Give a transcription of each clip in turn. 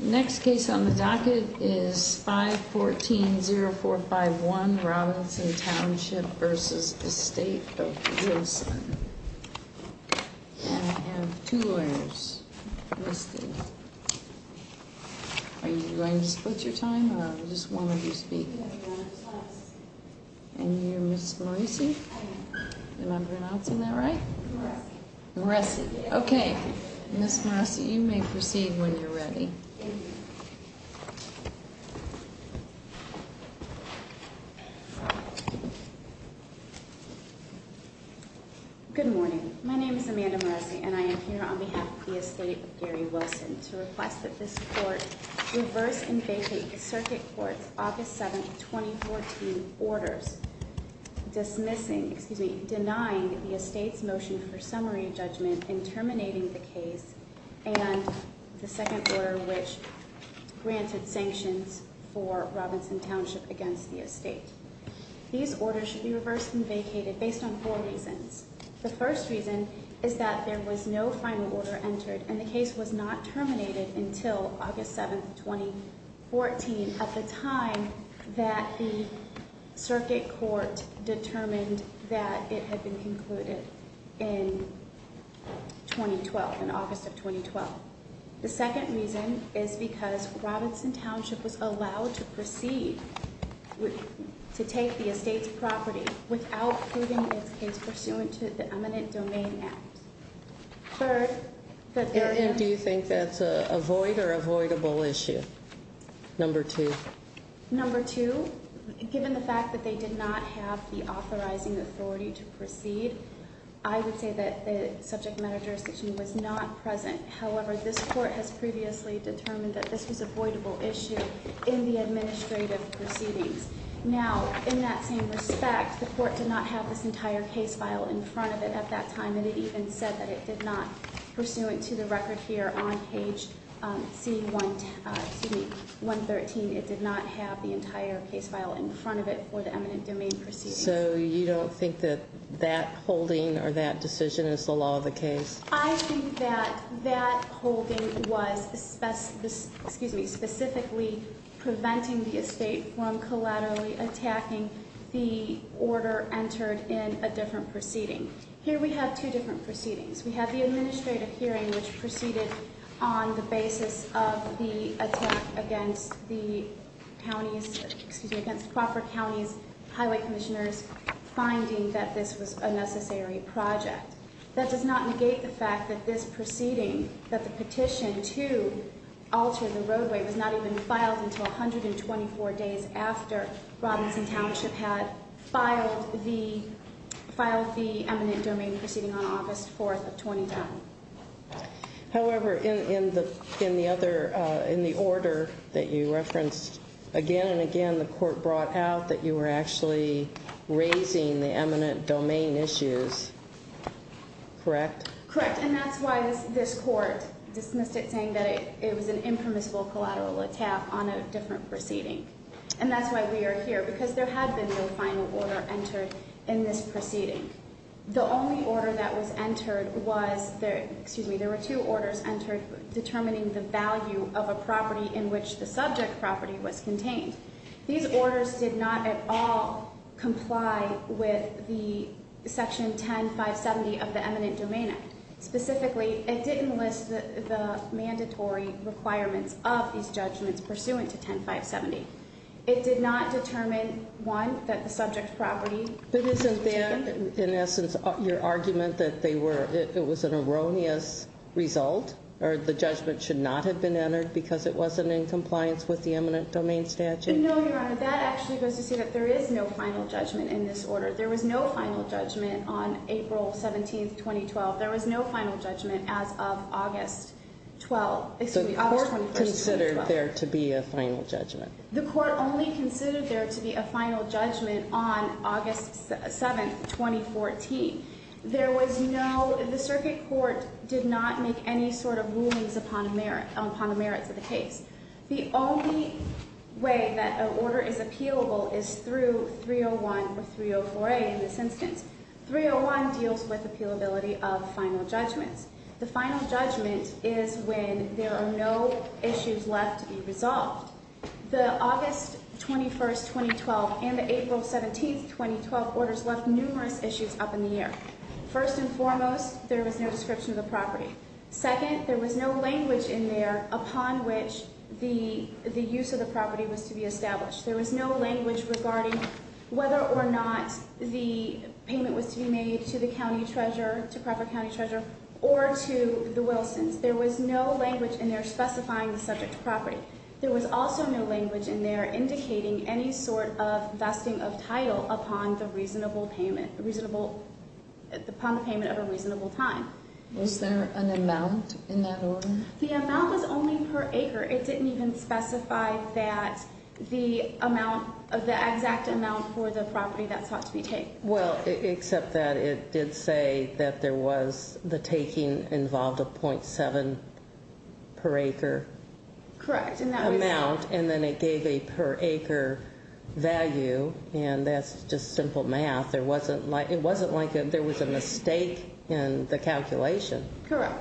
Next case on the docket is 514-0451 Robinson Township v. Estate of Wilson And I have two lawyers listed Are you going to split your time or just one of you speak? And you're Ms. Moreci? Am I pronouncing that right? Ms. Moreci, you may proceed when you're ready Good morning, my name is Amanda Moreci and I am here on behalf of the Estate of Gary Wilson To request that this court reverse and vacate the Circuit Court's Office 7 2014 Orders Denying the Estate's motion for summary judgment in terminating the case And the second order which granted sanctions for Robinson Township against the Estate These orders should be reversed and vacated based on four reasons The first reason is that there was no final order entered And the case was not terminated until August 7, 2014 At the time that the Circuit Court determined that it had been concluded in August of 2012 The second reason is because Robinson Township was allowed to proceed to take the Estate's property Without proving its case pursuant to the eminent domain act And do you think that's a void or avoidable issue, number two? Number two, given the fact that they did not have the authorizing authority to proceed I would say that the subject matter jurisdiction was not present However, this court has previously determined that this was a voidable issue in the administrative proceedings Now, in that same respect, the court did not have this entire case file in front of it at that time And it even said that it did not, pursuant to the record here on page 113 It did not have the entire case file in front of it for the eminent domain proceedings So you don't think that that holding or that decision is the law of the case? I think that that holding was specifically preventing the Estate from collaterally attacking the order entered in a different proceeding Here we have two different proceedings We have the administrative hearing which proceeded on the basis of the attack against the county's, excuse me Against Crawford County's highway commissioners finding that this was a necessary project That does not negate the fact that this proceeding, that the petition to alter the roadway Was not even filed until 124 days after Robinson Township had filed the eminent domain proceeding on August 4th of 2010 However, in the order that you referenced, again and again the court brought out that you were actually raising the eminent domain issues Correct? Correct, and that's why this court dismissed it saying that it was an impermissible collateral attack on a different proceeding And that's why we are here, because there had been no final order entered in this proceeding The only order that was entered was, excuse me, there were two orders entered Determining the value of a property in which the subject property was contained These orders did not at all comply with the section 10-570 of the eminent domain act Specifically, it didn't list the mandatory requirements of these judgments pursuant to 10-570 It did not determine, one, that the subject property But isn't that, in essence, your argument that they were, it was an erroneous result Or the judgment should not have been entered because it wasn't in compliance with the eminent domain statute No, Your Honor, that actually goes to say that there is no final judgment in this order There was no final judgment on April 17th, 2012 There was no final judgment as of August 12th, excuse me, August 21st, 2012 The court considered there to be a final judgment The court only considered there to be a final judgment on August 7th, 2014 There was no, the circuit court did not make any sort of rulings upon the merits of the case The only way that an order is appealable is through 301 or 304A in this instance 301 deals with appealability of final judgments The final judgment is when there are no issues left to be resolved The August 21st, 2012 and the April 17th, 2012 orders left numerous issues up in the air First and foremost, there was no description of the property Second, there was no language in there upon which the use of the property was to be established There was no language regarding whether or not the payment was to be made to the county treasurer To proper county treasurer or to the Wilsons There was no language in there specifying the subject property There was also no language in there indicating any sort of vesting of title upon the reasonable payment Upon the payment of a reasonable time Was there an amount in that order? The amount was only per acre It didn't even specify that the amount, the exact amount for the property that sought to be taken Well, except that it did say that there was the taking involved of 0.7 per acre Correct Amount and then it gave a per acre value and that's just simple math It wasn't like there was a mistake in the calculation Correct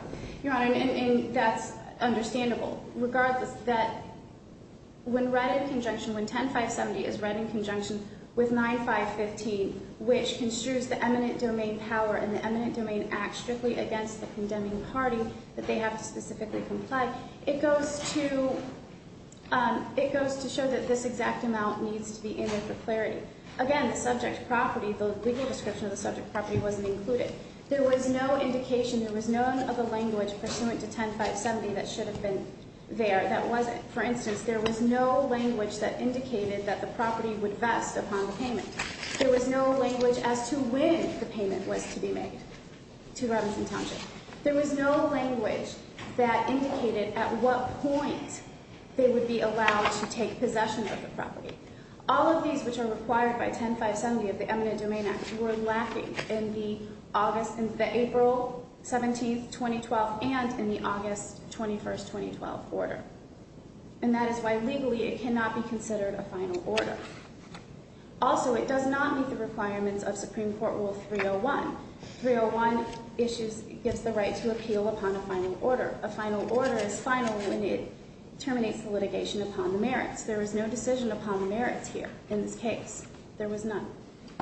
Your Honor, and that's understandable Regardless that when read in conjunction, when 10-570 is read in conjunction with 9-515 Which construes the eminent domain power and the eminent domain act strictly against the condemning party That they have to specifically comply It goes to show that this exact amount needs to be in there for clarity Again, the subject property, the legal description of the subject property wasn't included There was no indication, there was no other language pursuant to 10-570 that should have been there That wasn't For instance, there was no language that indicated that the property would vest upon the payment There was no language as to when the payment was to be made to Robinson Township There was no language that indicated at what point they would be allowed to take possession of the property All of these which are required by 10-570 of the eminent domain act were lacking in the April 17, 2012 And in the August 21, 2012 order And that is why legally it cannot be considered a final order Also, it does not meet the requirements of Supreme Court Rule 301 Rule 301 gives the right to appeal upon a final order A final order is final when it terminates the litigation upon the merits There was no decision upon the merits here in this case There was none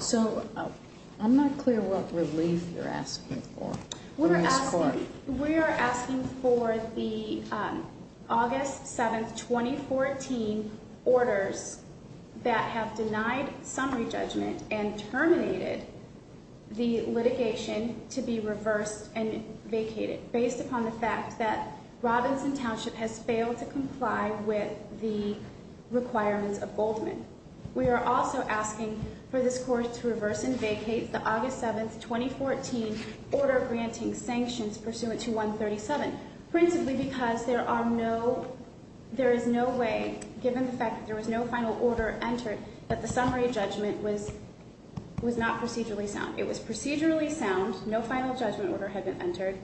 So, I'm not clear what relief you're asking for We are asking for the August 7, 2014 orders that have denied summary judgment And terminated the litigation to be reversed and vacated Based upon the fact that Robinson Township has failed to comply with the requirements of Goldman We are also asking for this court to reverse and vacate the August 7, 2014 order granting sanctions pursuant to 137 Principally because there is no way, given the fact that there was no final order entered That the summary judgment was not procedurally sound It was procedurally sound, no final judgment order had been entered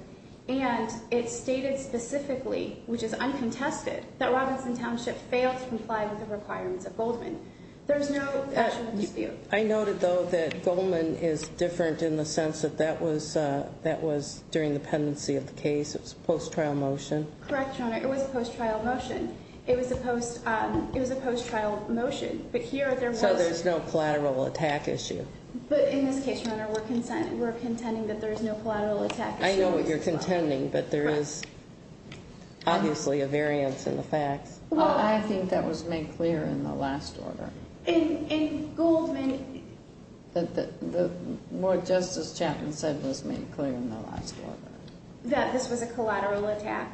And it stated specifically, which is uncontested, that Robinson Township failed to comply with the requirements of Goldman There is no question of dispute I noted though that Goldman is different in the sense that that was during the pendency of the case It was a post-trial motion Correct, Your Honor, it was a post-trial motion It was a post-trial motion, but here there was So there's no collateral attack issue But in this case, Your Honor, we're contending that there's no collateral attack issue I know what you're contending, but there is obviously a variance in the facts I think that was made clear in the last order In Goldman What Justice Chapman said was made clear in the last order That this was a collateral attack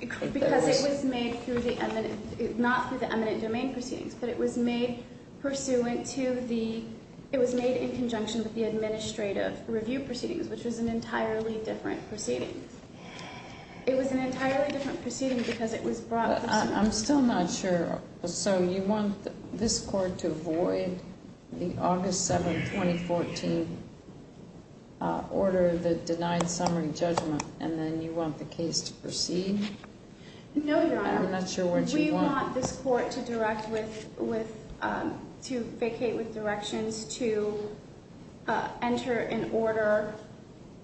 Because it was made through the eminent, not through the eminent domain proceedings But it was made pursuant to the It was made in conjunction with the administrative review proceedings Which was an entirely different proceeding It was an entirely different proceeding because it was brought I'm still not sure So you want this court to avoid the August 7, 2014 order, the denied summary judgment And then you want the case to proceed? No, Your Honor I'm not sure what you want Do you want this court to vacate with directions to enter an order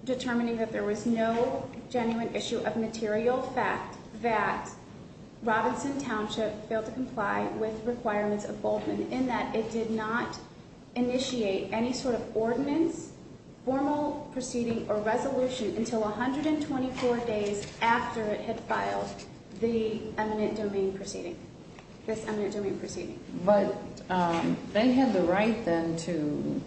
Determining that there was no genuine issue of material fact That Robinson Township failed to comply with requirements of Goldman In that it did not initiate any sort of ordinance, formal proceeding, or resolution Until 124 days after it had filed this eminent domain proceeding But they had the right then to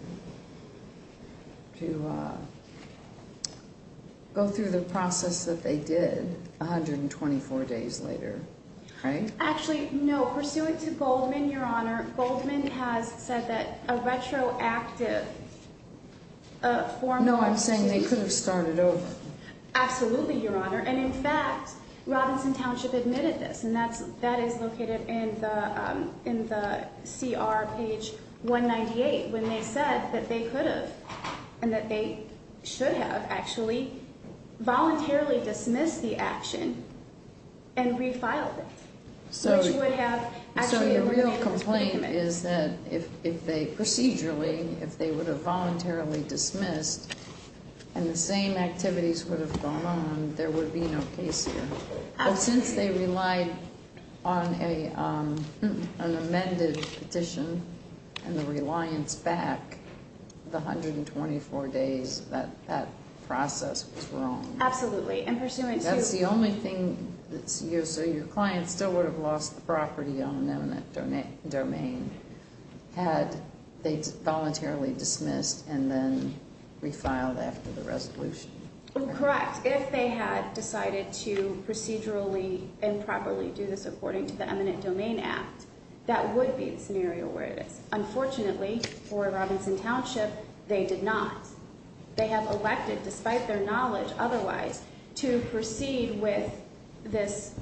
go through the process that they did 124 days later, right? Actually, no, pursuant to Goldman, Your Honor Goldman has said that a retroactive formal proceeding No, I'm saying they could have started over Absolutely, Your Honor And in fact, Robinson Township admitted this And that is located in the CR page 198 When they said that they could have And that they should have actually voluntarily dismissed the action And refiled it So your real complaint is that if they procedurally If they would have voluntarily dismissed And the same activities would have gone on There would be no case here But since they relied on an amended petition And the reliance back The 124 days that that process was wrong Absolutely, and pursuant to That's the only thing So your client still would have lost the property on an eminent domain Had they voluntarily dismissed and then refiled after the resolution Correct, if they had decided to procedurally And properly do this according to the eminent domain act That would be the scenario where it is Unfortunately, for Robinson Township, they did not They have elected, despite their knowledge otherwise To proceed with this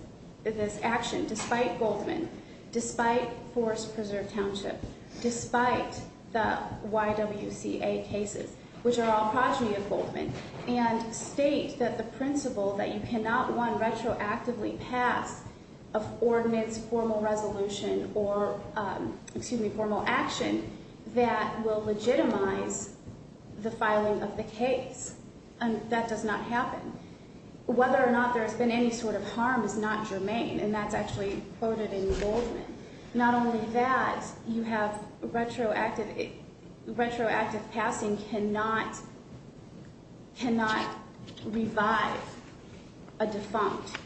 action Despite Goldman, despite Forest Preserve Township Despite the YWCA cases, which are all progeny of Goldman And state that the principle that you cannot one retroactively pass Of ordinance, formal resolution, or excuse me, formal action That will legitimize the filing of the case And that does not happen Whether or not there has been any sort of harm is not germane And that's actually quoted in Goldman Not only that, you have retroactive Retroactive passing cannot Cannot revive a defunct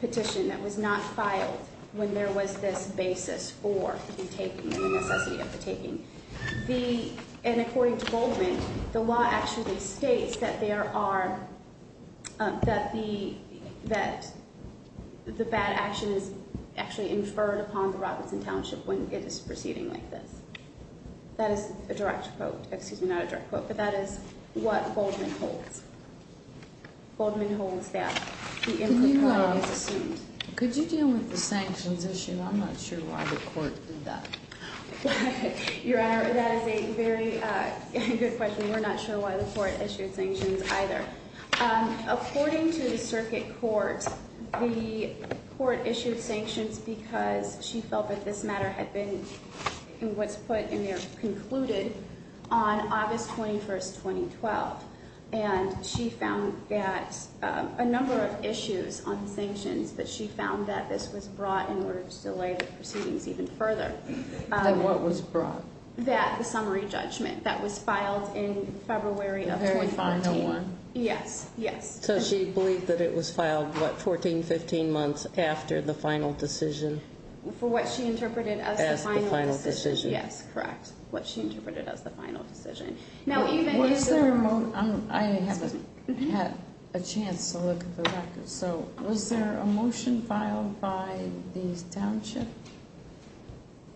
petition That was not filed when there was this basis for the taking The necessity of the taking The, and according to Goldman The law actually states that there are That the, that the bad action is actually inferred upon The Robinson Township when it is proceeding like this That is a direct quote, excuse me, not a direct quote But that is what Goldman holds Goldman holds that the input point is assumed Could you deal with the sanctions issue? I'm not sure why the court did that Your Honor, that is a very good question And we're not sure why the court issued sanctions either According to the circuit court The court issued sanctions because She felt that this matter had been What's put in there, concluded On August 21st, 2012 And she found that A number of issues on the sanctions But she found that this was brought in order to delay the proceedings even further And what was brought? That summary judgment that was filed in February of 2014 The very final one Yes, yes So she believed that it was filed, what, 14, 15 months after the final decision? For what she interpreted as the final decision As the final decision Yes, correct, what she interpreted as the final decision Now even in the Was there a, I haven't had a chance to look at the records So was there a motion filed by the Township?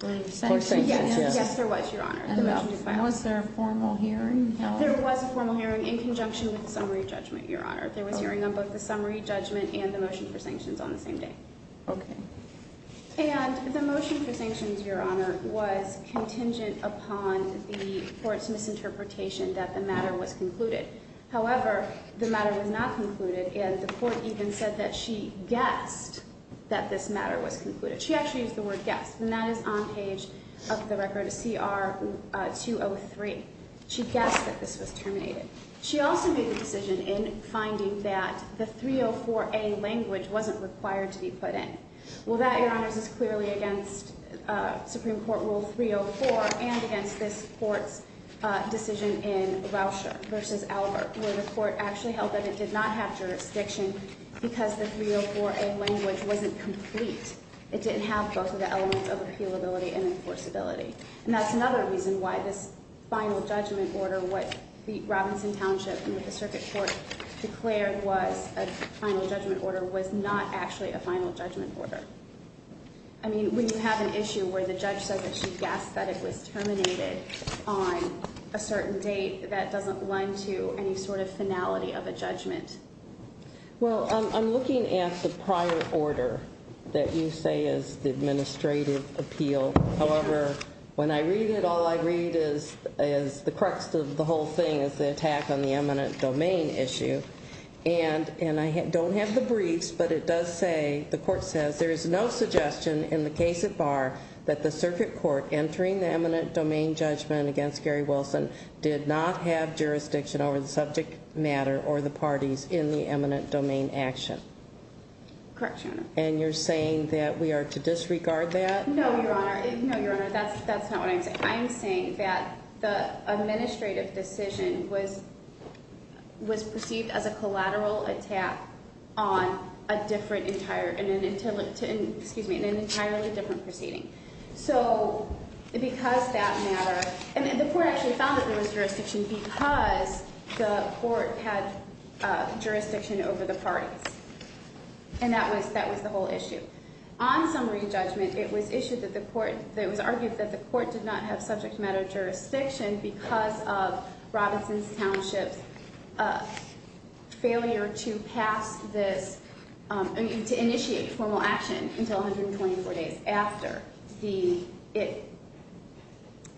For sanctions? Yes, yes there was, Your Honor And was there a formal hearing held? There was a formal hearing in conjunction with the summary judgment, Your Honor There was hearing on both the summary judgment and the motion for sanctions on the same day Okay And the motion for sanctions, Your Honor Was contingent upon the court's misinterpretation that the matter was concluded However, the matter was not concluded And the court even said that she guessed that this matter was concluded She actually used the word guessed And that is on page, up the record, CR 203 She guessed that this was terminated She also made the decision in finding that the 304A language wasn't required to be put in Well that, Your Honors, is clearly against Supreme Court Rule 304 And against this court's decision in Rauscher v. Albert Where the court actually held that it did not have jurisdiction Because the 304A language wasn't complete It didn't have both of the elements of appealability and enforceability And that's another reason why this final judgment order, what the Robinson Township And what the circuit court declared was a final judgment order Was not actually a final judgment order I mean, when you have an issue where the judge says that she guessed that it was terminated On a certain date, that doesn't lend to any sort of finality of a judgment Well, I'm looking at the prior order that you say is the administrative appeal However, when I read it, all I read is the crux of the whole thing Is the attack on the eminent domain issue And I don't have the briefs, but it does say The court says, there is no suggestion in the case at bar That the circuit court entering the eminent domain judgment against Gary Wilson Did not have jurisdiction over the subject matter or the parties in the eminent domain action Correct, Your Honor And you're saying that we are to disregard that? No, Your Honor, that's not what I'm saying I'm saying that the administrative decision was perceived as a collateral attack On an entirely different proceeding So, because that matter And the court actually found that there was jurisdiction Because the court had jurisdiction over the parties And that was the whole issue On summary judgment, it was argued that the court did not have subject matter jurisdiction Because of Robinson's Township's failure to pass this To initiate formal action until 124 days after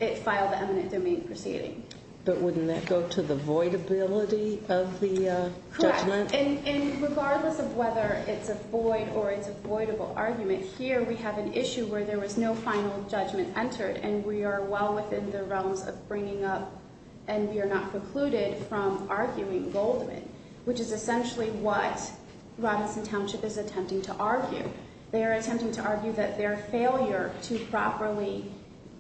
it filed the eminent domain proceeding But wouldn't that go to the voidability of the judgment? Correct, and regardless of whether it's a void or it's a voidable argument Here we have an issue where there was no final judgment entered And we are well within the realms of bringing up And we are not precluded from arguing Goldman Which is essentially what Robinson Township is attempting to argue They are attempting to argue that their failure to properly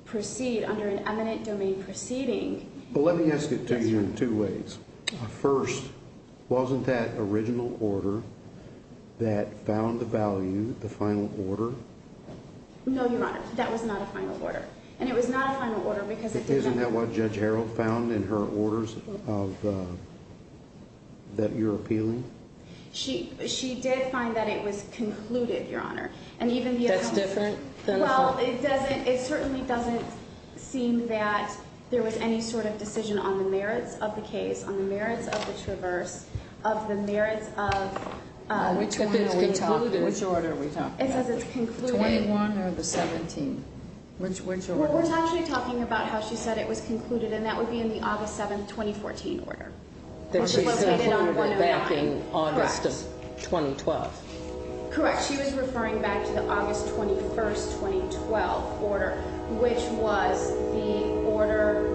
proceed Under an eminent domain proceeding But let me ask it to you in two ways First, wasn't that original order that found the value, the final order? No, Your Honor, that was not a final order And it was not a final order because it didn't Isn't that what Judge Harrell found in her orders that you're appealing? She did find that it was concluded, Your Honor That's different? Well, it certainly doesn't seem that there was any sort of decision on the merits of the case On the merits of the traverse, of the merits of Which order are we talking about? It says it's concluded The 21 or the 17 When's your order? Well, we're actually talking about how she said it was concluded And that would be in the August 7, 2014 order That she's referring to back in August of 2012 Correct, she was referring back to the August 21, 2012 order Which was the order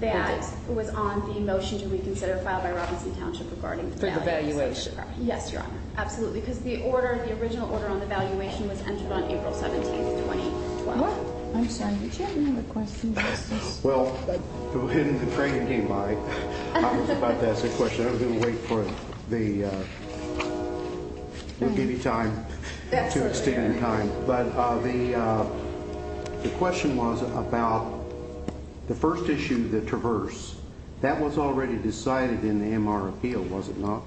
that was on the motion to reconsider Filed by Robinson Township regarding the values For the valuation Yes, Your Honor, absolutely Because the original order on the valuation was entered on April 17, 2012 I'm sorry, did you have any other questions? Well, when Craig came by, I was about to ask a question I was going to wait for the We'll give you time to extend time But the question was about the first issue, the traverse That was already decided in the MR appeal, was it not?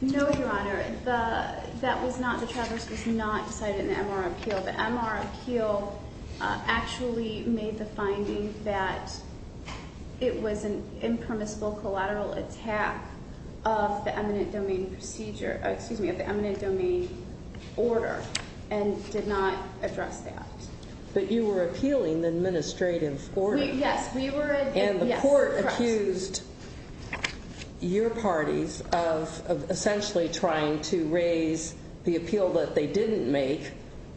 No, Your Honor, that was not, the traverse was not decided in the MR appeal The MR appeal actually made the finding that It was an impermissible collateral attack of the eminent domain procedure Excuse me, of the eminent domain order And did not address that But you were appealing the administrative order Yes, we were And the court accused your parties of essentially trying to raise The appeal that they didn't make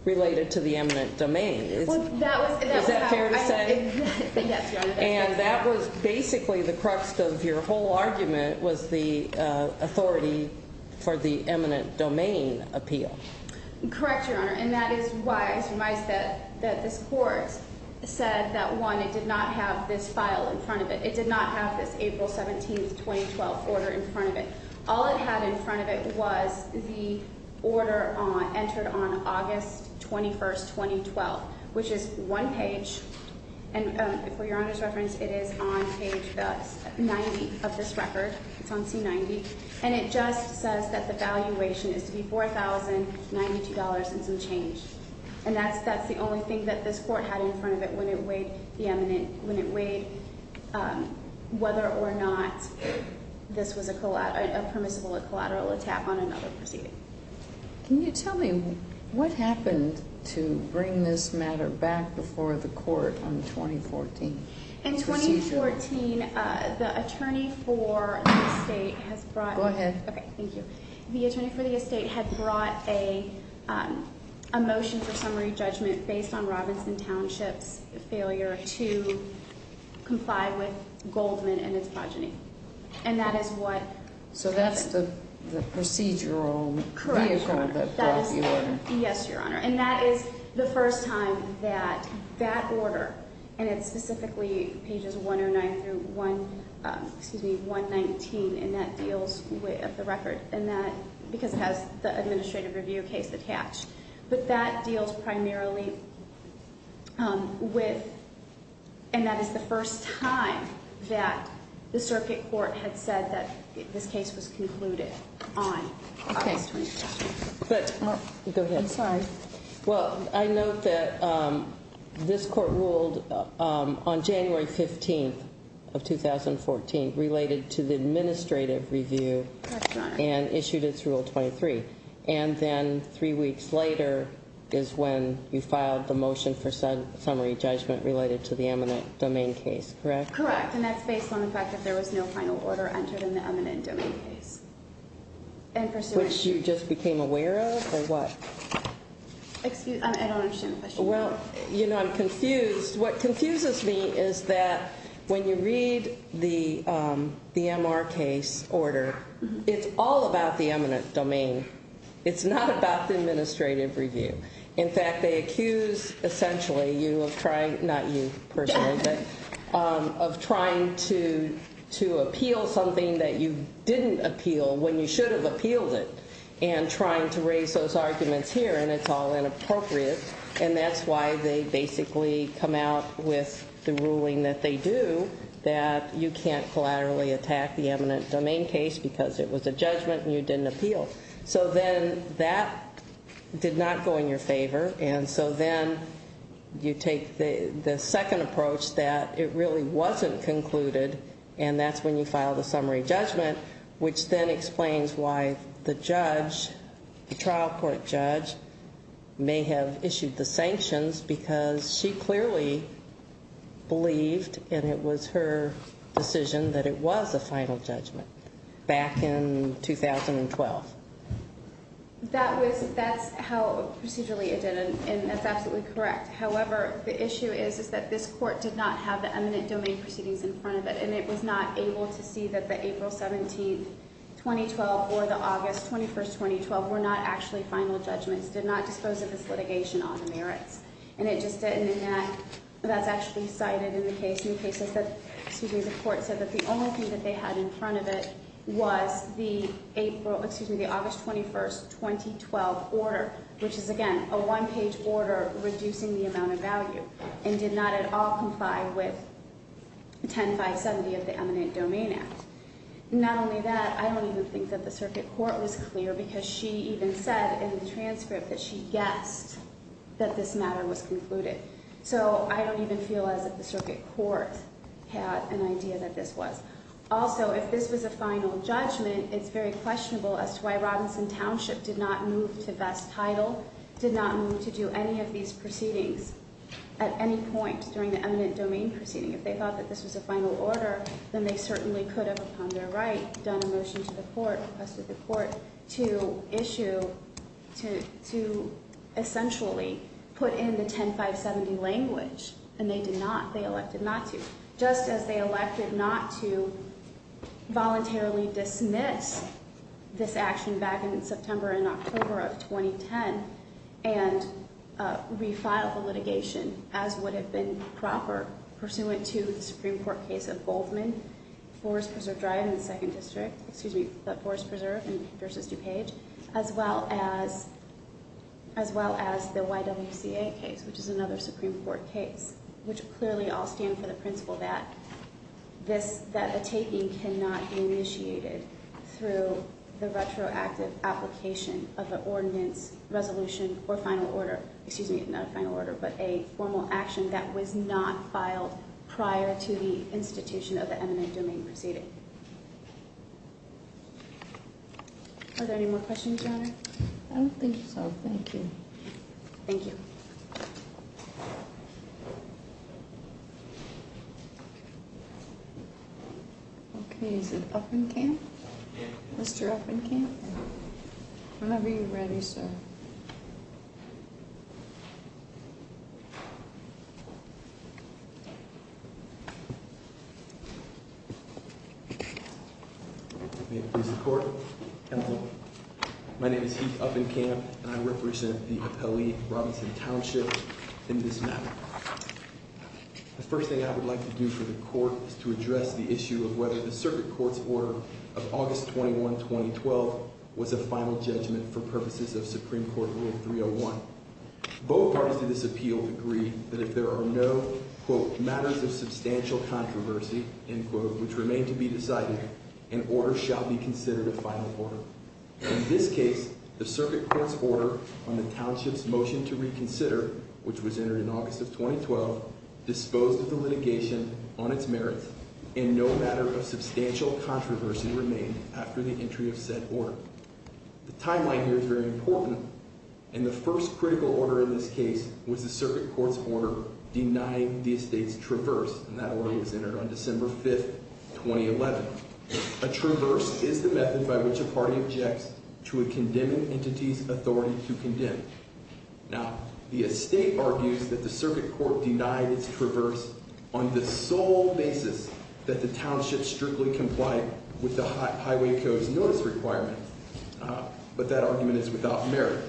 related to the eminent domain Well, that was Is that fair to say? Yes, Your Honor And that was basically the crux of your whole argument Was the authority for the eminent domain appeal Correct, Your Honor, and that is why I was surprised that this court said that, one, it did not have this file in front of it It did not have this April 17, 2012 order in front of it All it had in front of it was the order entered on August 21, 2012 Which is one page, and for Your Honor's reference, it is on page 90 of this record It's on C90 And it just says that the valuation is to be $4,092 and some change And that's the only thing that this court had in front of it when it weighed whether or not This was a permissible collateral attack on another proceeding Can you tell me what happened to bring this matter back before the court on 2014? In 2014, the attorney for the estate has brought Go ahead Okay, thank you A motion for summary judgment based on Robinson Township's failure to comply with Goldman and its progeny And that is what happened So that's the procedural vehicle that brought the order Yes, Your Honor And that is the first time that that order, and it's specifically pages 109 through 119 And that deals with the record, because it has the administrative review case attached But that deals primarily with And that is the first time that the circuit court had said that this case was concluded on August 21 Okay, but Go ahead I'm sorry Well, I note that this court ruled on January 15th of 2014 Related to the administrative review That's right And issued its rule 23 And then three weeks later is when you filed the motion for summary judgment related to the eminent domain case, correct? Correct, and that's based on the fact that there was no final order entered in the eminent domain case Which you just became aware of, or what? I don't understand the question Well, you know, I'm confused What confuses me is that when you read the MR case order, it's all about the eminent domain It's not about the administrative review In fact, they accuse essentially you of trying, not you personally, but Of trying to appeal something that you didn't appeal when you should have appealed it And trying to raise those arguments here, and it's all inappropriate And that's why they basically come out with the ruling that they do That you can't collaterally attack the eminent domain case because it was a judgment and you didn't appeal So then that did not go in your favor And so then you take the second approach that it really wasn't concluded And that's when you file the summary judgment Which then explains why the judge, the trial court judge, may have issued the sanctions Because she clearly believed, and it was her decision, that it was a final judgment Back in 2012 That's how procedurally it did, and that's absolutely correct However, the issue is that this court did not have the eminent domain proceedings in front of it And it was not able to see that the April 17, 2012, or the August 21, 2012 Were not actually final judgments, did not dispose of this litigation on the merits And it just didn't, and that's actually cited in the case In cases that, excuse me, the court said that the only thing that they had in front of it Was the April, excuse me, the August 21, 2012 order Which is, again, a one-page order reducing the amount of value And did not at all comply with 10.570 of the eminent domain act Not only that, I don't even think that the circuit court was clear Because she even said in the transcript that she guessed that this matter was concluded So I don't even feel as if the circuit court had an idea that this was Also, if this was a final judgment, it's very questionable as to why At any point during the eminent domain proceeding, if they thought that this was a final order Then they certainly could have, upon their right, done a motion to the court Requested the court to issue, to essentially put in the 10.570 language And they did not, they elected not to Just as they elected not to voluntarily dismiss this action back in September and October of 2010 And refile the litigation as would have been proper Pursuant to the Supreme Court case of Goldman, Forest Preserve Drive in the 2nd District Excuse me, the Forest Preserve versus DuPage As well as the YWCA case, which is another Supreme Court case Which clearly all stand for the principle that the taking cannot be initiated Through the retroactive application of an ordinance, resolution or final order Excuse me, not a final order, but a formal action that was not filed Prior to the institution of the eminent domain proceeding Are there any more questions, Your Honor? I don't think so, thank you Thank you Okay, is it Uppenkamp? Mr. Uppenkamp? Whenever you're ready, sir May it please the court My name is Heath Uppenkamp and I represent the Appellee Robinson Township in this matter The first thing I would like to do for the court is to address the issue of whether the Circuit Court's order of August 21, 2012 Was a final judgment for purposes of Supreme Court Rule 301 Both parties to this appeal agree that if there are no Quote, matters of substantial controversy, end quote, which remain to be decided An order shall be considered a final order In this case, the Circuit Court's order on the township's motion to reconsider Which was entered in August of 2012, disposed of the litigation on its merits And no matter of substantial controversy remained after the entry of said order The timeline here is very important And the first critical order in this case was the Circuit Court's order denying the estate's traverse And that order was entered on December 5, 2011 A traverse is the method by which a party objects to a condemning entity's authority to condemn Now, the estate argues that the Circuit Court denied its traverse on the sole basis That the township strictly complied with the Highway Code's notice requirement But that argument is without merit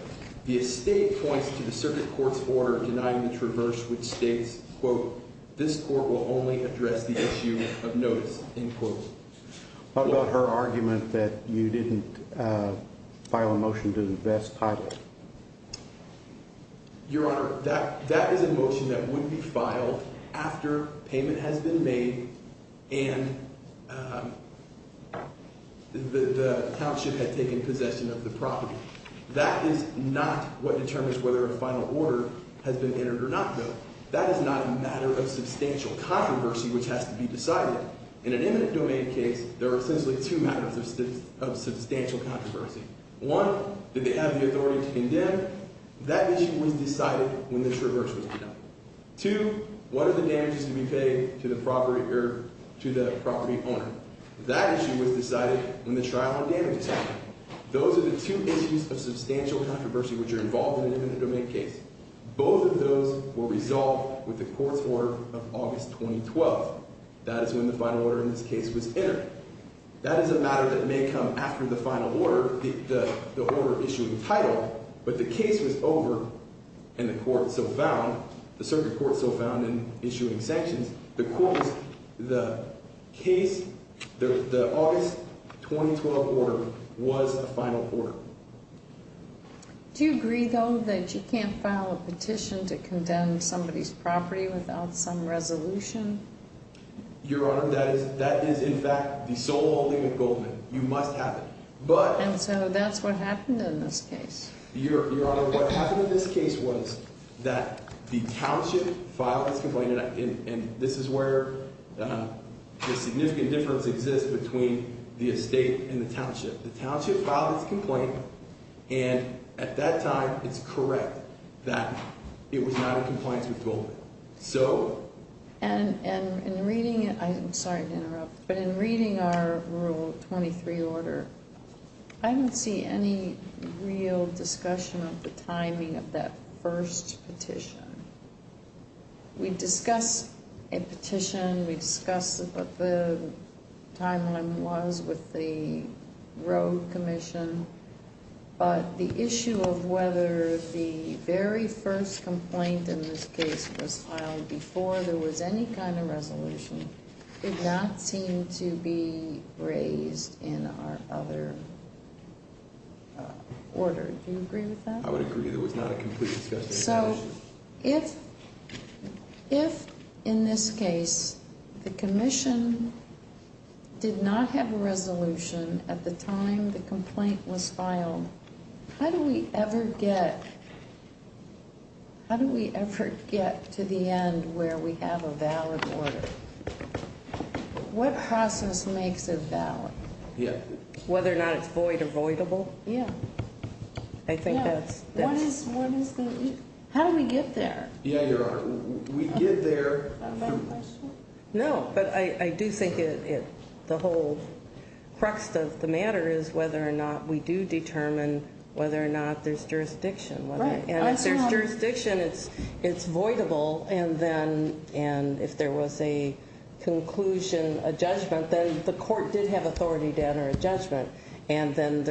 The estate points to the Circuit Court's order denying the traverse which states Quote, this court will only address the issue of notice, end quote What about her argument that you didn't file a motion to invest highly? Your Honor, that is a motion that would be filed after payment has been made And the township had taken possession of the property That is not what determines whether a final order has been entered or not, though That is not a matter of substantial controversy which has to be decided In an eminent domain case, there are essentially two matters of substantial controversy One, did they have the authority to condemn? That issue was decided when the traverse was denied Two, what are the damages to be paid to the property owner? That issue was decided when the trial on damages happened Those are the two issues of substantial controversy which are involved in an eminent domain case Both of those were resolved with the court's order of August 2012 That is when the final order in this case was entered That is a matter that may come after the final order, the order issuing title But the case was over and the court so found, the circuit court so found in issuing sanctions The court was, the case, the August 2012 order was a final order Do you agree, though, that you can't file a petition to condemn somebody's property without some resolution? Your Honor, that is in fact the sole holding of Goldman You must have it, but And so that's what happened in this case Your Honor, what happened in this case was that the township filed its complaint And this is where the significant difference exists between the estate and the township The township filed its complaint and at that time it's correct that it was not in compliance with Goldman So And in reading it, I'm sorry to interrupt, but in reading our Rule 23 order I didn't see any real discussion of the timing of that first petition We discussed a petition, we discussed what the timeline was with the road commission But the issue of whether the very first complaint in this case was filed before there was any kind of resolution Did not seem to be raised in our other order Do you agree with that? I would agree, there was not a complete discussion So if in this case the commission did not have a resolution at the time the complaint was filed How do we ever get to the end where we have a valid order? What process makes it valid? Whether or not it's void or voidable I think that's How do we get there? Yeah, you're right, we get there No, but I do think the whole crux of the matter is whether or not we do determine whether or not there's jurisdiction And if there's jurisdiction, it's voidable And if there was a conclusion, a judgment, then the court did have authority to enter a judgment And then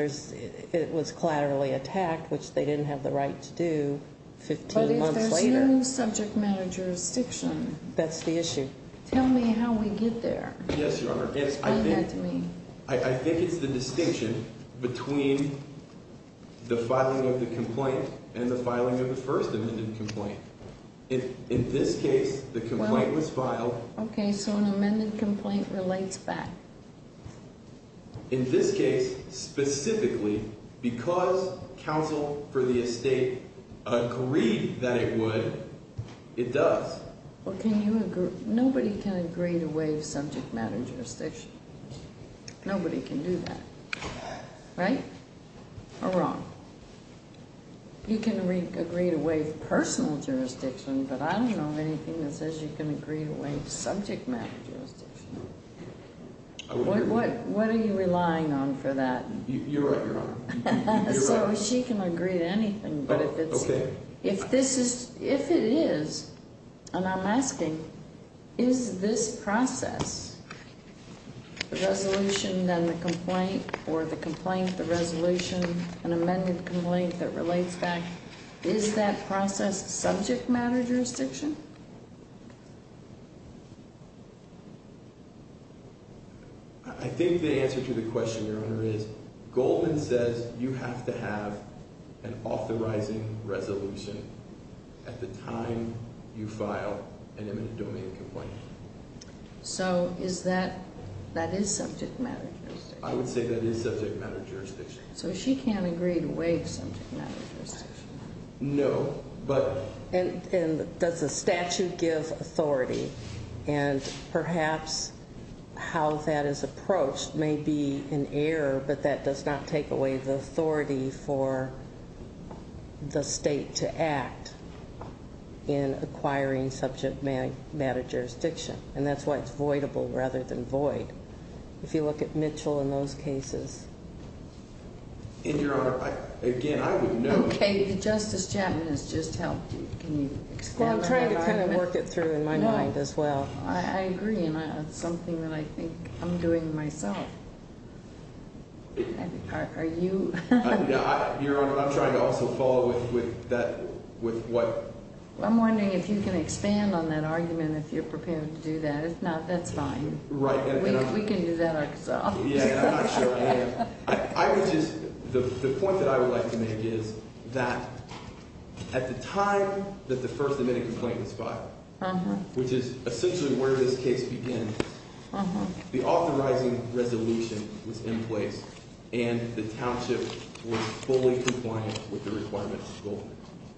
it was collaterally attacked, which they didn't have the right to do 15 months later But if there's no subject matter jurisdiction That's the issue Tell me how we get there Explain that to me I think it's the distinction between the filing of the complaint and the filing of the first amended complaint In this case, the complaint was filed Okay, so an amended complaint relates back In this case, specifically, because counsel for the estate agreed that it would, it does Nobody can agree to waive subject matter jurisdiction Nobody can do that Right? Or wrong? You can agree to waive personal jurisdiction, but I don't know of anything that says you can agree to waive subject matter jurisdiction What are you relying on for that? You're right, Your Honor So she can agree to anything, but if it's Okay If this is, if it is, and I'm asking, is this process, the resolution, then the complaint, or the complaint, the resolution, an amended complaint that relates back Is that process subject matter jurisdiction? I think the answer to the question, Your Honor, is Goldman says you have to have an authorizing resolution at the time you file an amended domain complaint So is that, that is subject matter jurisdiction? I would say that is subject matter jurisdiction So she can't agree to waive subject matter jurisdiction? No, but And does the statute give authority? And perhaps how that is approached may be an error, but that does not take away the authority for the state to act in acquiring subject matter jurisdiction And that's why it's voidable rather than void If you look at Mitchell in those cases And, Your Honor, again, I would note Okay, Justice Chapman has just helped you, can you expand on that argument? I'm trying to kind of work it through in my mind as well I agree, and it's something that I think I'm doing myself Are you? I'm trying to also follow with that, with what I'm wondering if you can expand on that argument, if you're prepared to do that, if not, that's fine Right We can do that ourselves Yeah, I'm not sure I am I would just, the point that I would like to make is that at the time that the first admitting complaint was filed, which is essentially where this case began The authorizing resolution was in place and the township was fully compliant with the requirements of the school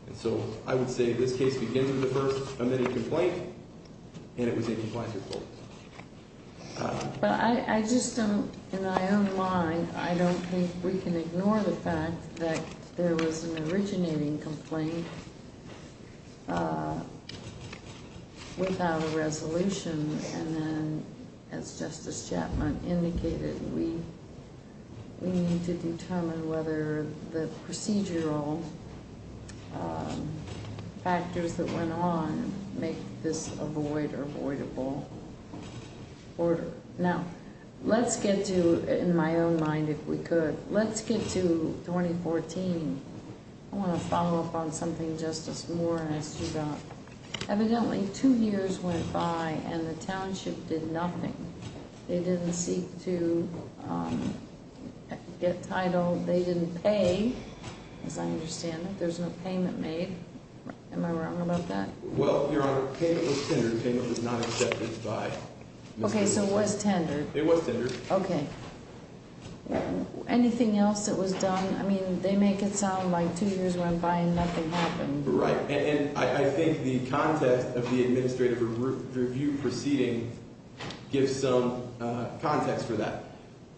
And so I would say this case began with the first admitting complaint and it was in compliance with the school But I just don't, in my own mind, I don't think we can ignore the fact that there was an originating complaint without a resolution And then, as Justice Chapman indicated, we need to determine whether the procedural factors that went on make this a void or avoidable order Now, let's get to, in my own mind if we could, let's get to 2014 I want to follow up on something Justice Morris, you got Evidently, two years went by and the township did nothing They didn't seek to get title, they didn't pay, as I understand it, there's no payment made Am I wrong about that? Well, Your Honor, payment was tendered, payment was not accepted by Okay, so it was tendered It was tendered Okay Anything else that was done, I mean, they make it sound like two years went by and nothing happened Right, and I think the context of the administrative review proceeding gives some context for that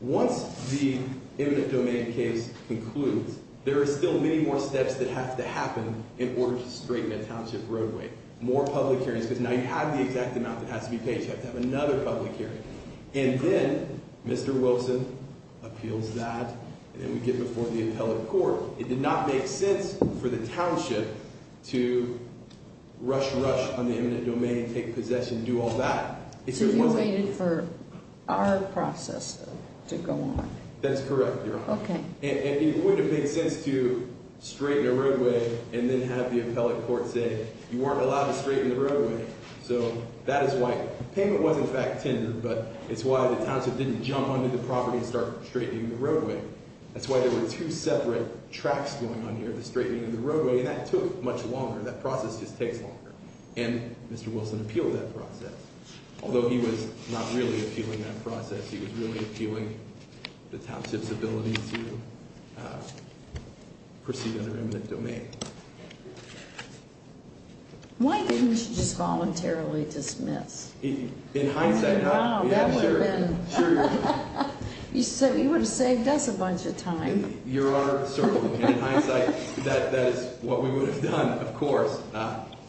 Once the eminent domain case concludes, there are still many more steps that have to happen in order to straighten a township roadway More public hearings, because now you have the exact amount that has to be paid, you have to have another public hearing And then, Mr. Wilson appeals that, and then we get before the appellate court It did not make sense for the township to rush, rush on the eminent domain, take possession, do all that So you waited for our process to go on That's correct, Your Honor Okay And it wouldn't have made sense to straighten a roadway and then have the appellate court say, you weren't allowed to straighten the roadway So that is why, payment was in fact tendered, but it's why the township didn't jump onto the property and start straightening the roadway That's why there were two separate tracks going on here, the straightening of the roadway, and that took much longer That process just takes longer, and Mr. Wilson appealed that process Although he was not really appealing that process, he was really appealing the township's ability to proceed under eminent domain Why didn't you just voluntarily dismiss? In hindsight, no Wow, that would have been You would have saved us a bunch of time Your Honor, certainly, in hindsight, that is what we would have done, of course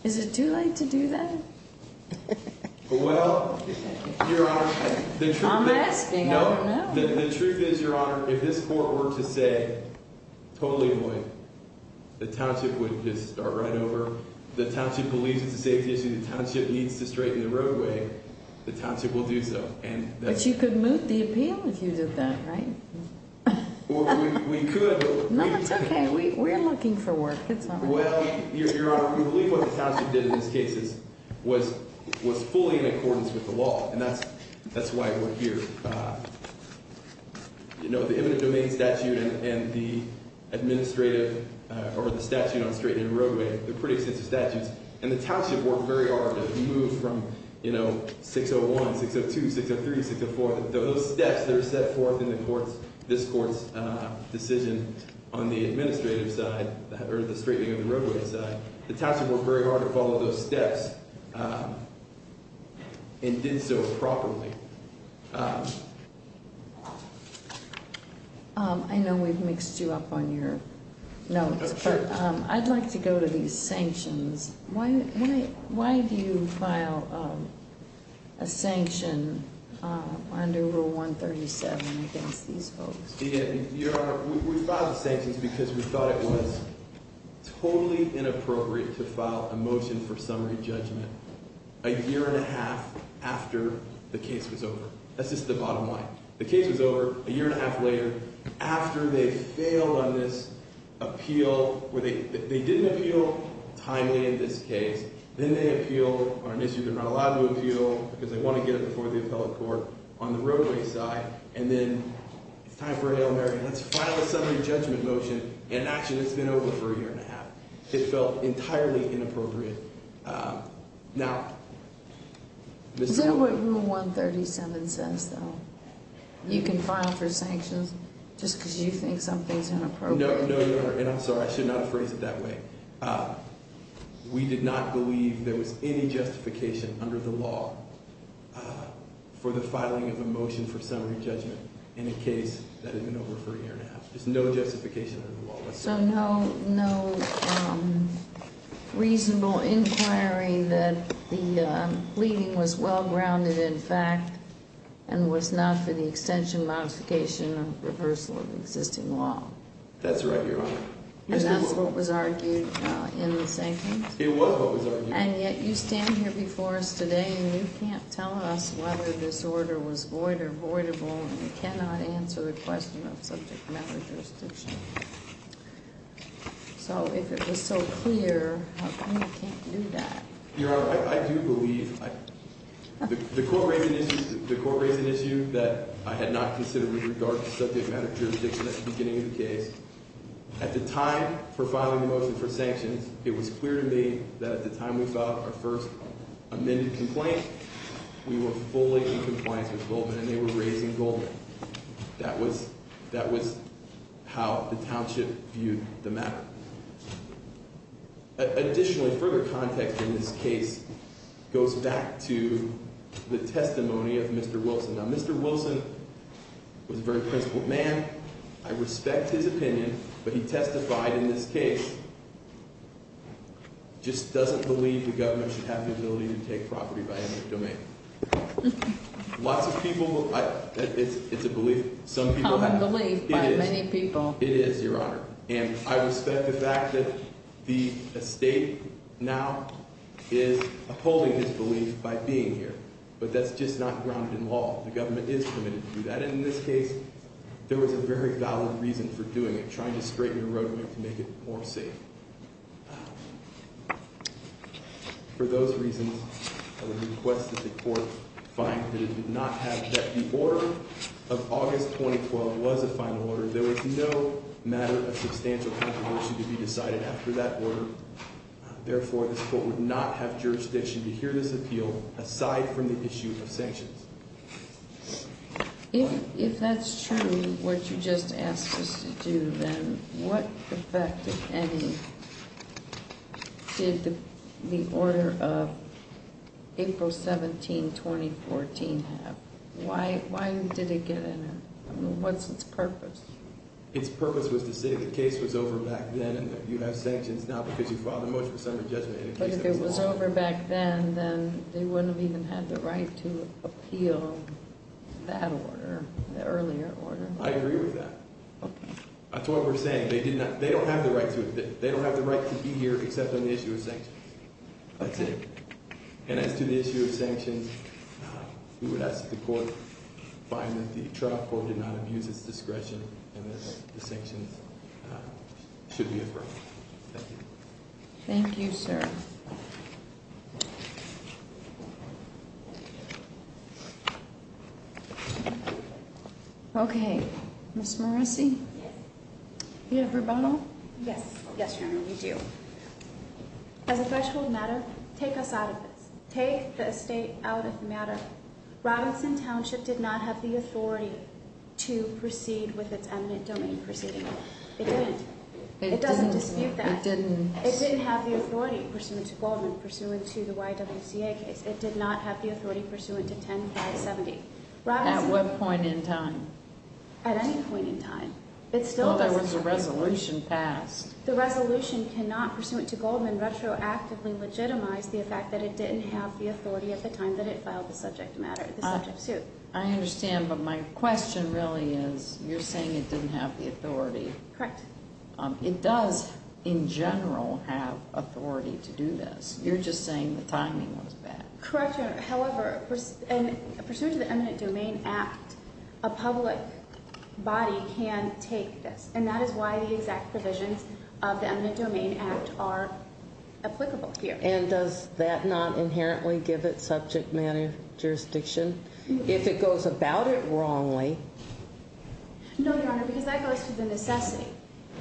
Is it too late to do that? Well, Your Honor, the truth is I'm asking, I don't know The truth is, Your Honor, if this court were to say, totally annoyed, the township would just start right over The township believes it's a safety issue, the township needs to straighten the roadway, the township will do so But you could moot the appeal if you did that, right? Well, we could, but No, that's okay, we're looking for work, it's not like that Well, Your Honor, we believe what the township did in this case was fully in accordance with the law And that's why we're here You know, the eminent domain statute and the administrative, or the statute on straightening the roadway, they're pretty extensive statutes And the township worked very hard to move from, you know, 601, 602, 603, 604 Those steps that are set forth in this court's decision on the administrative side, or the straightening of the roadway side The township worked very hard to follow those steps And did so properly I know we've mixed you up on your notes, but I'd like to go to these sanctions Why do you file a sanction under Rule 137 against these folks? Your Honor, we filed the sanctions because we thought it was totally inappropriate to file a motion for summary judgment A year and a half after the case was over That's just the bottom line The case was over, a year and a half later After they failed on this appeal They didn't appeal timely in this case Then they appeal on an issue they're not allowed to appeal Because they want to get it before the appellate court On the roadway side And then, it's time for a Hail Mary And actually it's been over for a year and a half It felt entirely inappropriate Is that what Rule 137 says, though? You can file for sanctions just because you think something's inappropriate? No, Your Honor, and I'm sorry, I should not have phrased it that way We did not believe there was any justification under the law For the filing of a motion for summary judgment in a case that had been over for a year and a half There's no justification under the law So no reasonable inquiry that the pleading was well-grounded in fact And was not for the extension, modification, or reversal of existing law That's right, Your Honor And that's what was argued in the sanctions? It was what was argued And yet you stand here before us today And you can't tell us whether this order was void or voidable And you cannot answer the question of subject matter jurisdiction So if it was so clear, how come you can't do that? Your Honor, I do believe The court raised an issue that I had not considered with regard to subject matter jurisdiction at the beginning of the case At the time for filing the motion for sanctions It was clear to me that at the time we filed our first amended complaint We were fully in compliance with Goldman and they were raising Goldman That was how the township viewed the matter Additionally, further context in this case goes back to the testimony of Mr. Wilson Now Mr. Wilson was a very principled man I respect his opinion But he testified in this case Just doesn't believe the government should have the ability to take property by any domain Lots of people, it's a belief Some people have it It's a belief by many people It is, Your Honor And I respect the fact that the estate now is upholding this belief by being here But that's just not grounded in law The government is permitted to do that And in this case, there was a very valid reason for doing it Trying to straighten the roadway to make it more safe For those reasons, I would request that the court find that it did not have that The order of August 2012 was a final order There was no matter of substantial controversy to be decided after that order Therefore, this court would not have jurisdiction to hear this appeal aside from the issue of sanctions If that's true, what you just asked us to do, then What effect, if any, did the order of April 17, 2014 have? Why did it get in? What's its purpose? Its purpose was to say the case was over back then And that you have sanctions Not because you filed a motion of summary judgment But if it was over back then Then they wouldn't have even had the right to appeal that order The earlier order I agree with that Okay That's what we're saying They don't have the right to be here except on the issue of sanctions That's it And as to the issue of sanctions We would ask that the court find that the trial court did not abuse its discretion And that the sanctions should be affirmed Thank you Thank you, sir Thank you Okay Ms. Morrissey Yes Do you have rebuttal? Yes Yes, Your Honor, we do As a threshold matter, take us out of this Take the estate out of the matter Robinson Township did not have the authority to proceed with its eminent domain proceeding It didn't It doesn't dispute that It didn't It didn't have the authority pursuant to Goldman Pursuant to the YWCA case It did not have the authority pursuant to 10-570 At what point in time? At any point in time It still doesn't Well, there was a resolution passed The resolution cannot, pursuant to Goldman, retroactively legitimize the fact that it didn't have the authority at the time that it filed the subject matter The subject suit I understand But my question really is You're saying it didn't have the authority Correct It does, in general, have authority to do this You're just saying the timing was bad Correct, Your Honor However, pursuant to the Eminent Domain Act A public body can take this And that is why the exact provisions of the Eminent Domain Act are applicable here And does that not inherently give it subject matter jurisdiction? If it goes about it wrongly No, Your Honor, because that goes to the necessity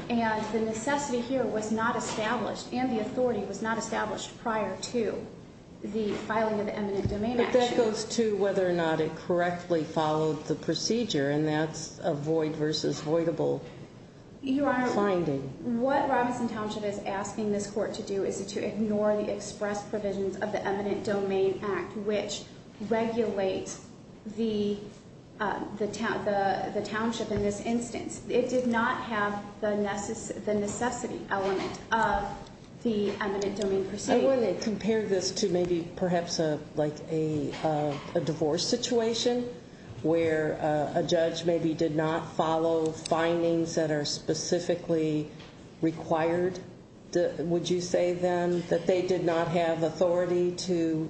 And the necessity here was not established And the authority was not established prior to the filing of the Eminent Domain Act But that goes to whether or not it correctly followed the procedure And that's a void versus voidable finding What Robinson Township is asking this Court to do Is to ignore the express provisions of the Eminent Domain Act Which regulate the township in this instance It did not have the necessity element of the Eminent Domain Procedure I want to compare this to maybe perhaps a divorce situation Where a judge maybe did not follow findings that are specifically required Would you say then that they did not have authority to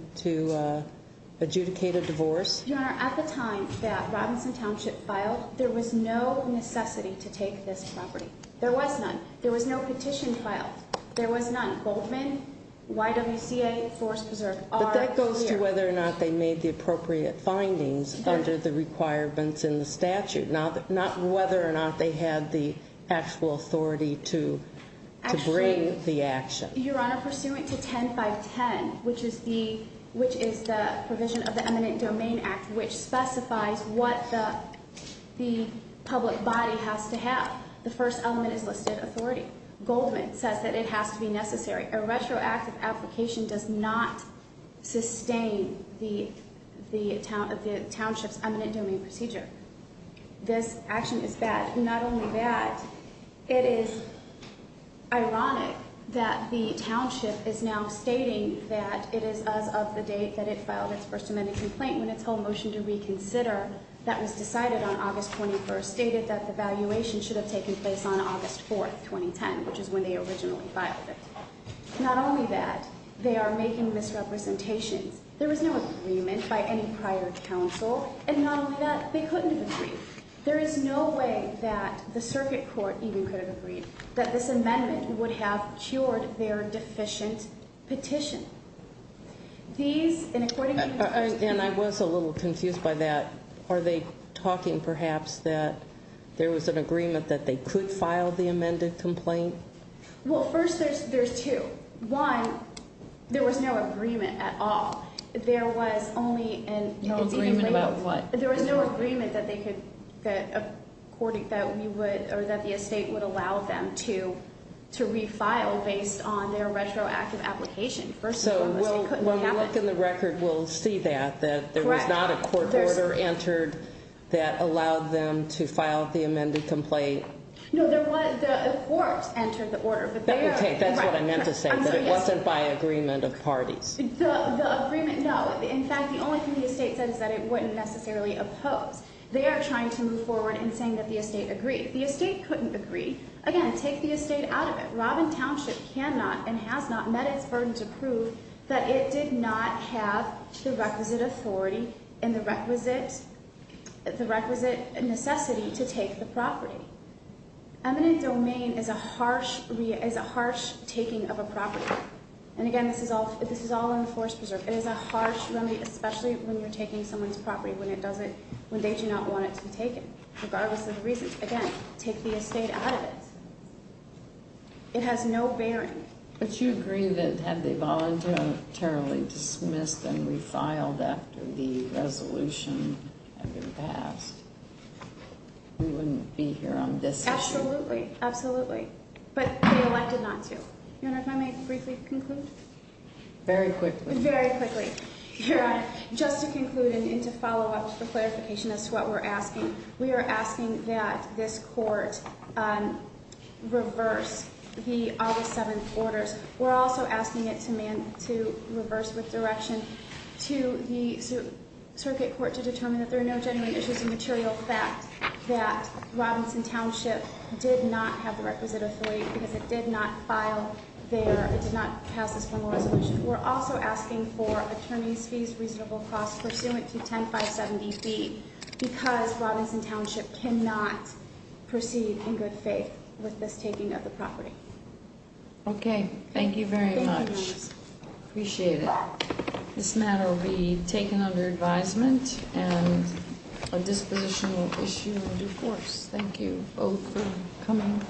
adjudicate a divorce? Your Honor, at the time that Robinson Township filed There was no necessity to take this property There was none There was no petition filed There was none Goldman YWCA Forest Preserve But that goes to whether or not they made the appropriate findings Under the requirements in the statute Not whether or not they had the actual authority to bring the action Your Honor, pursuant to 10-5-10 Which is the provision of the Eminent Domain Act Which specifies what the public body has to have The first element is listed authority Goldman says that it has to be necessary A retroactive application does not sustain the township's Eminent Domain Procedure This action is bad Not only that, it is ironic that the township is now stating That it is as of the date that it filed its First Amendment complaint When its whole motion to reconsider That was decided on August 21st Stated that the valuation should have taken place on August 4th, 2010 Which is when they originally filed it Not only that, they are making misrepresentations There was no agreement by any prior counsel And not only that, they couldn't have agreed There is no way that the circuit court even could have agreed That this amendment would have cured their deficient petition These, and according to And I was a little confused by that Are they talking perhaps that There was an agreement that they could file the amended complaint? Well first there's two One, there was no agreement at all There was only an No agreement about what? There was no agreement that they could That the estate would allow them to To refile based on their retroactive application So when we look in the record we'll see that That there was not a court order entered That allowed them to file the amended complaint No, the court entered the order That's what I meant to say That it wasn't by agreement of parties The agreement, no And in fact the only thing the estate said Is that it wouldn't necessarily oppose They are trying to move forward in saying that the estate agreed The estate couldn't agree Again, take the estate out of it Robin Township cannot and has not met its burden to prove That it did not have the requisite authority And the requisite The requisite necessity to take the property Eminent domain is a harsh Is a harsh taking of a property And again this is all It is a harsh remedy Especially when you're taking someone's property When it doesn't When they do not want it to be taken Regardless of the reasons Again, take the estate out of it It has no bearing But you agree that had they voluntarily dismissed And refiled after the resolution had been passed We wouldn't be here on this issue Absolutely, absolutely But they elected not to Your Honor, if I may briefly conclude Very quickly Very quickly Your Honor, just to conclude And to follow up the clarification As to what we're asking We are asking that this court Reverse the August 7th orders We're also asking it to reverse with direction To the circuit court to determine That there are no genuine issues of material fact That Robinson Township did not have the requisite authority Because it did not file their It did not pass this formal resolution We're also asking for attorney's fees Reasonable costs pursuant to 10-570B Because Robinson Township cannot proceed in good faith With this taking of the property Okay, thank you very much Thank you, Your Honor Appreciate it This matter will be taken under advisement And a dispositional issue will be forced Thank you both for coming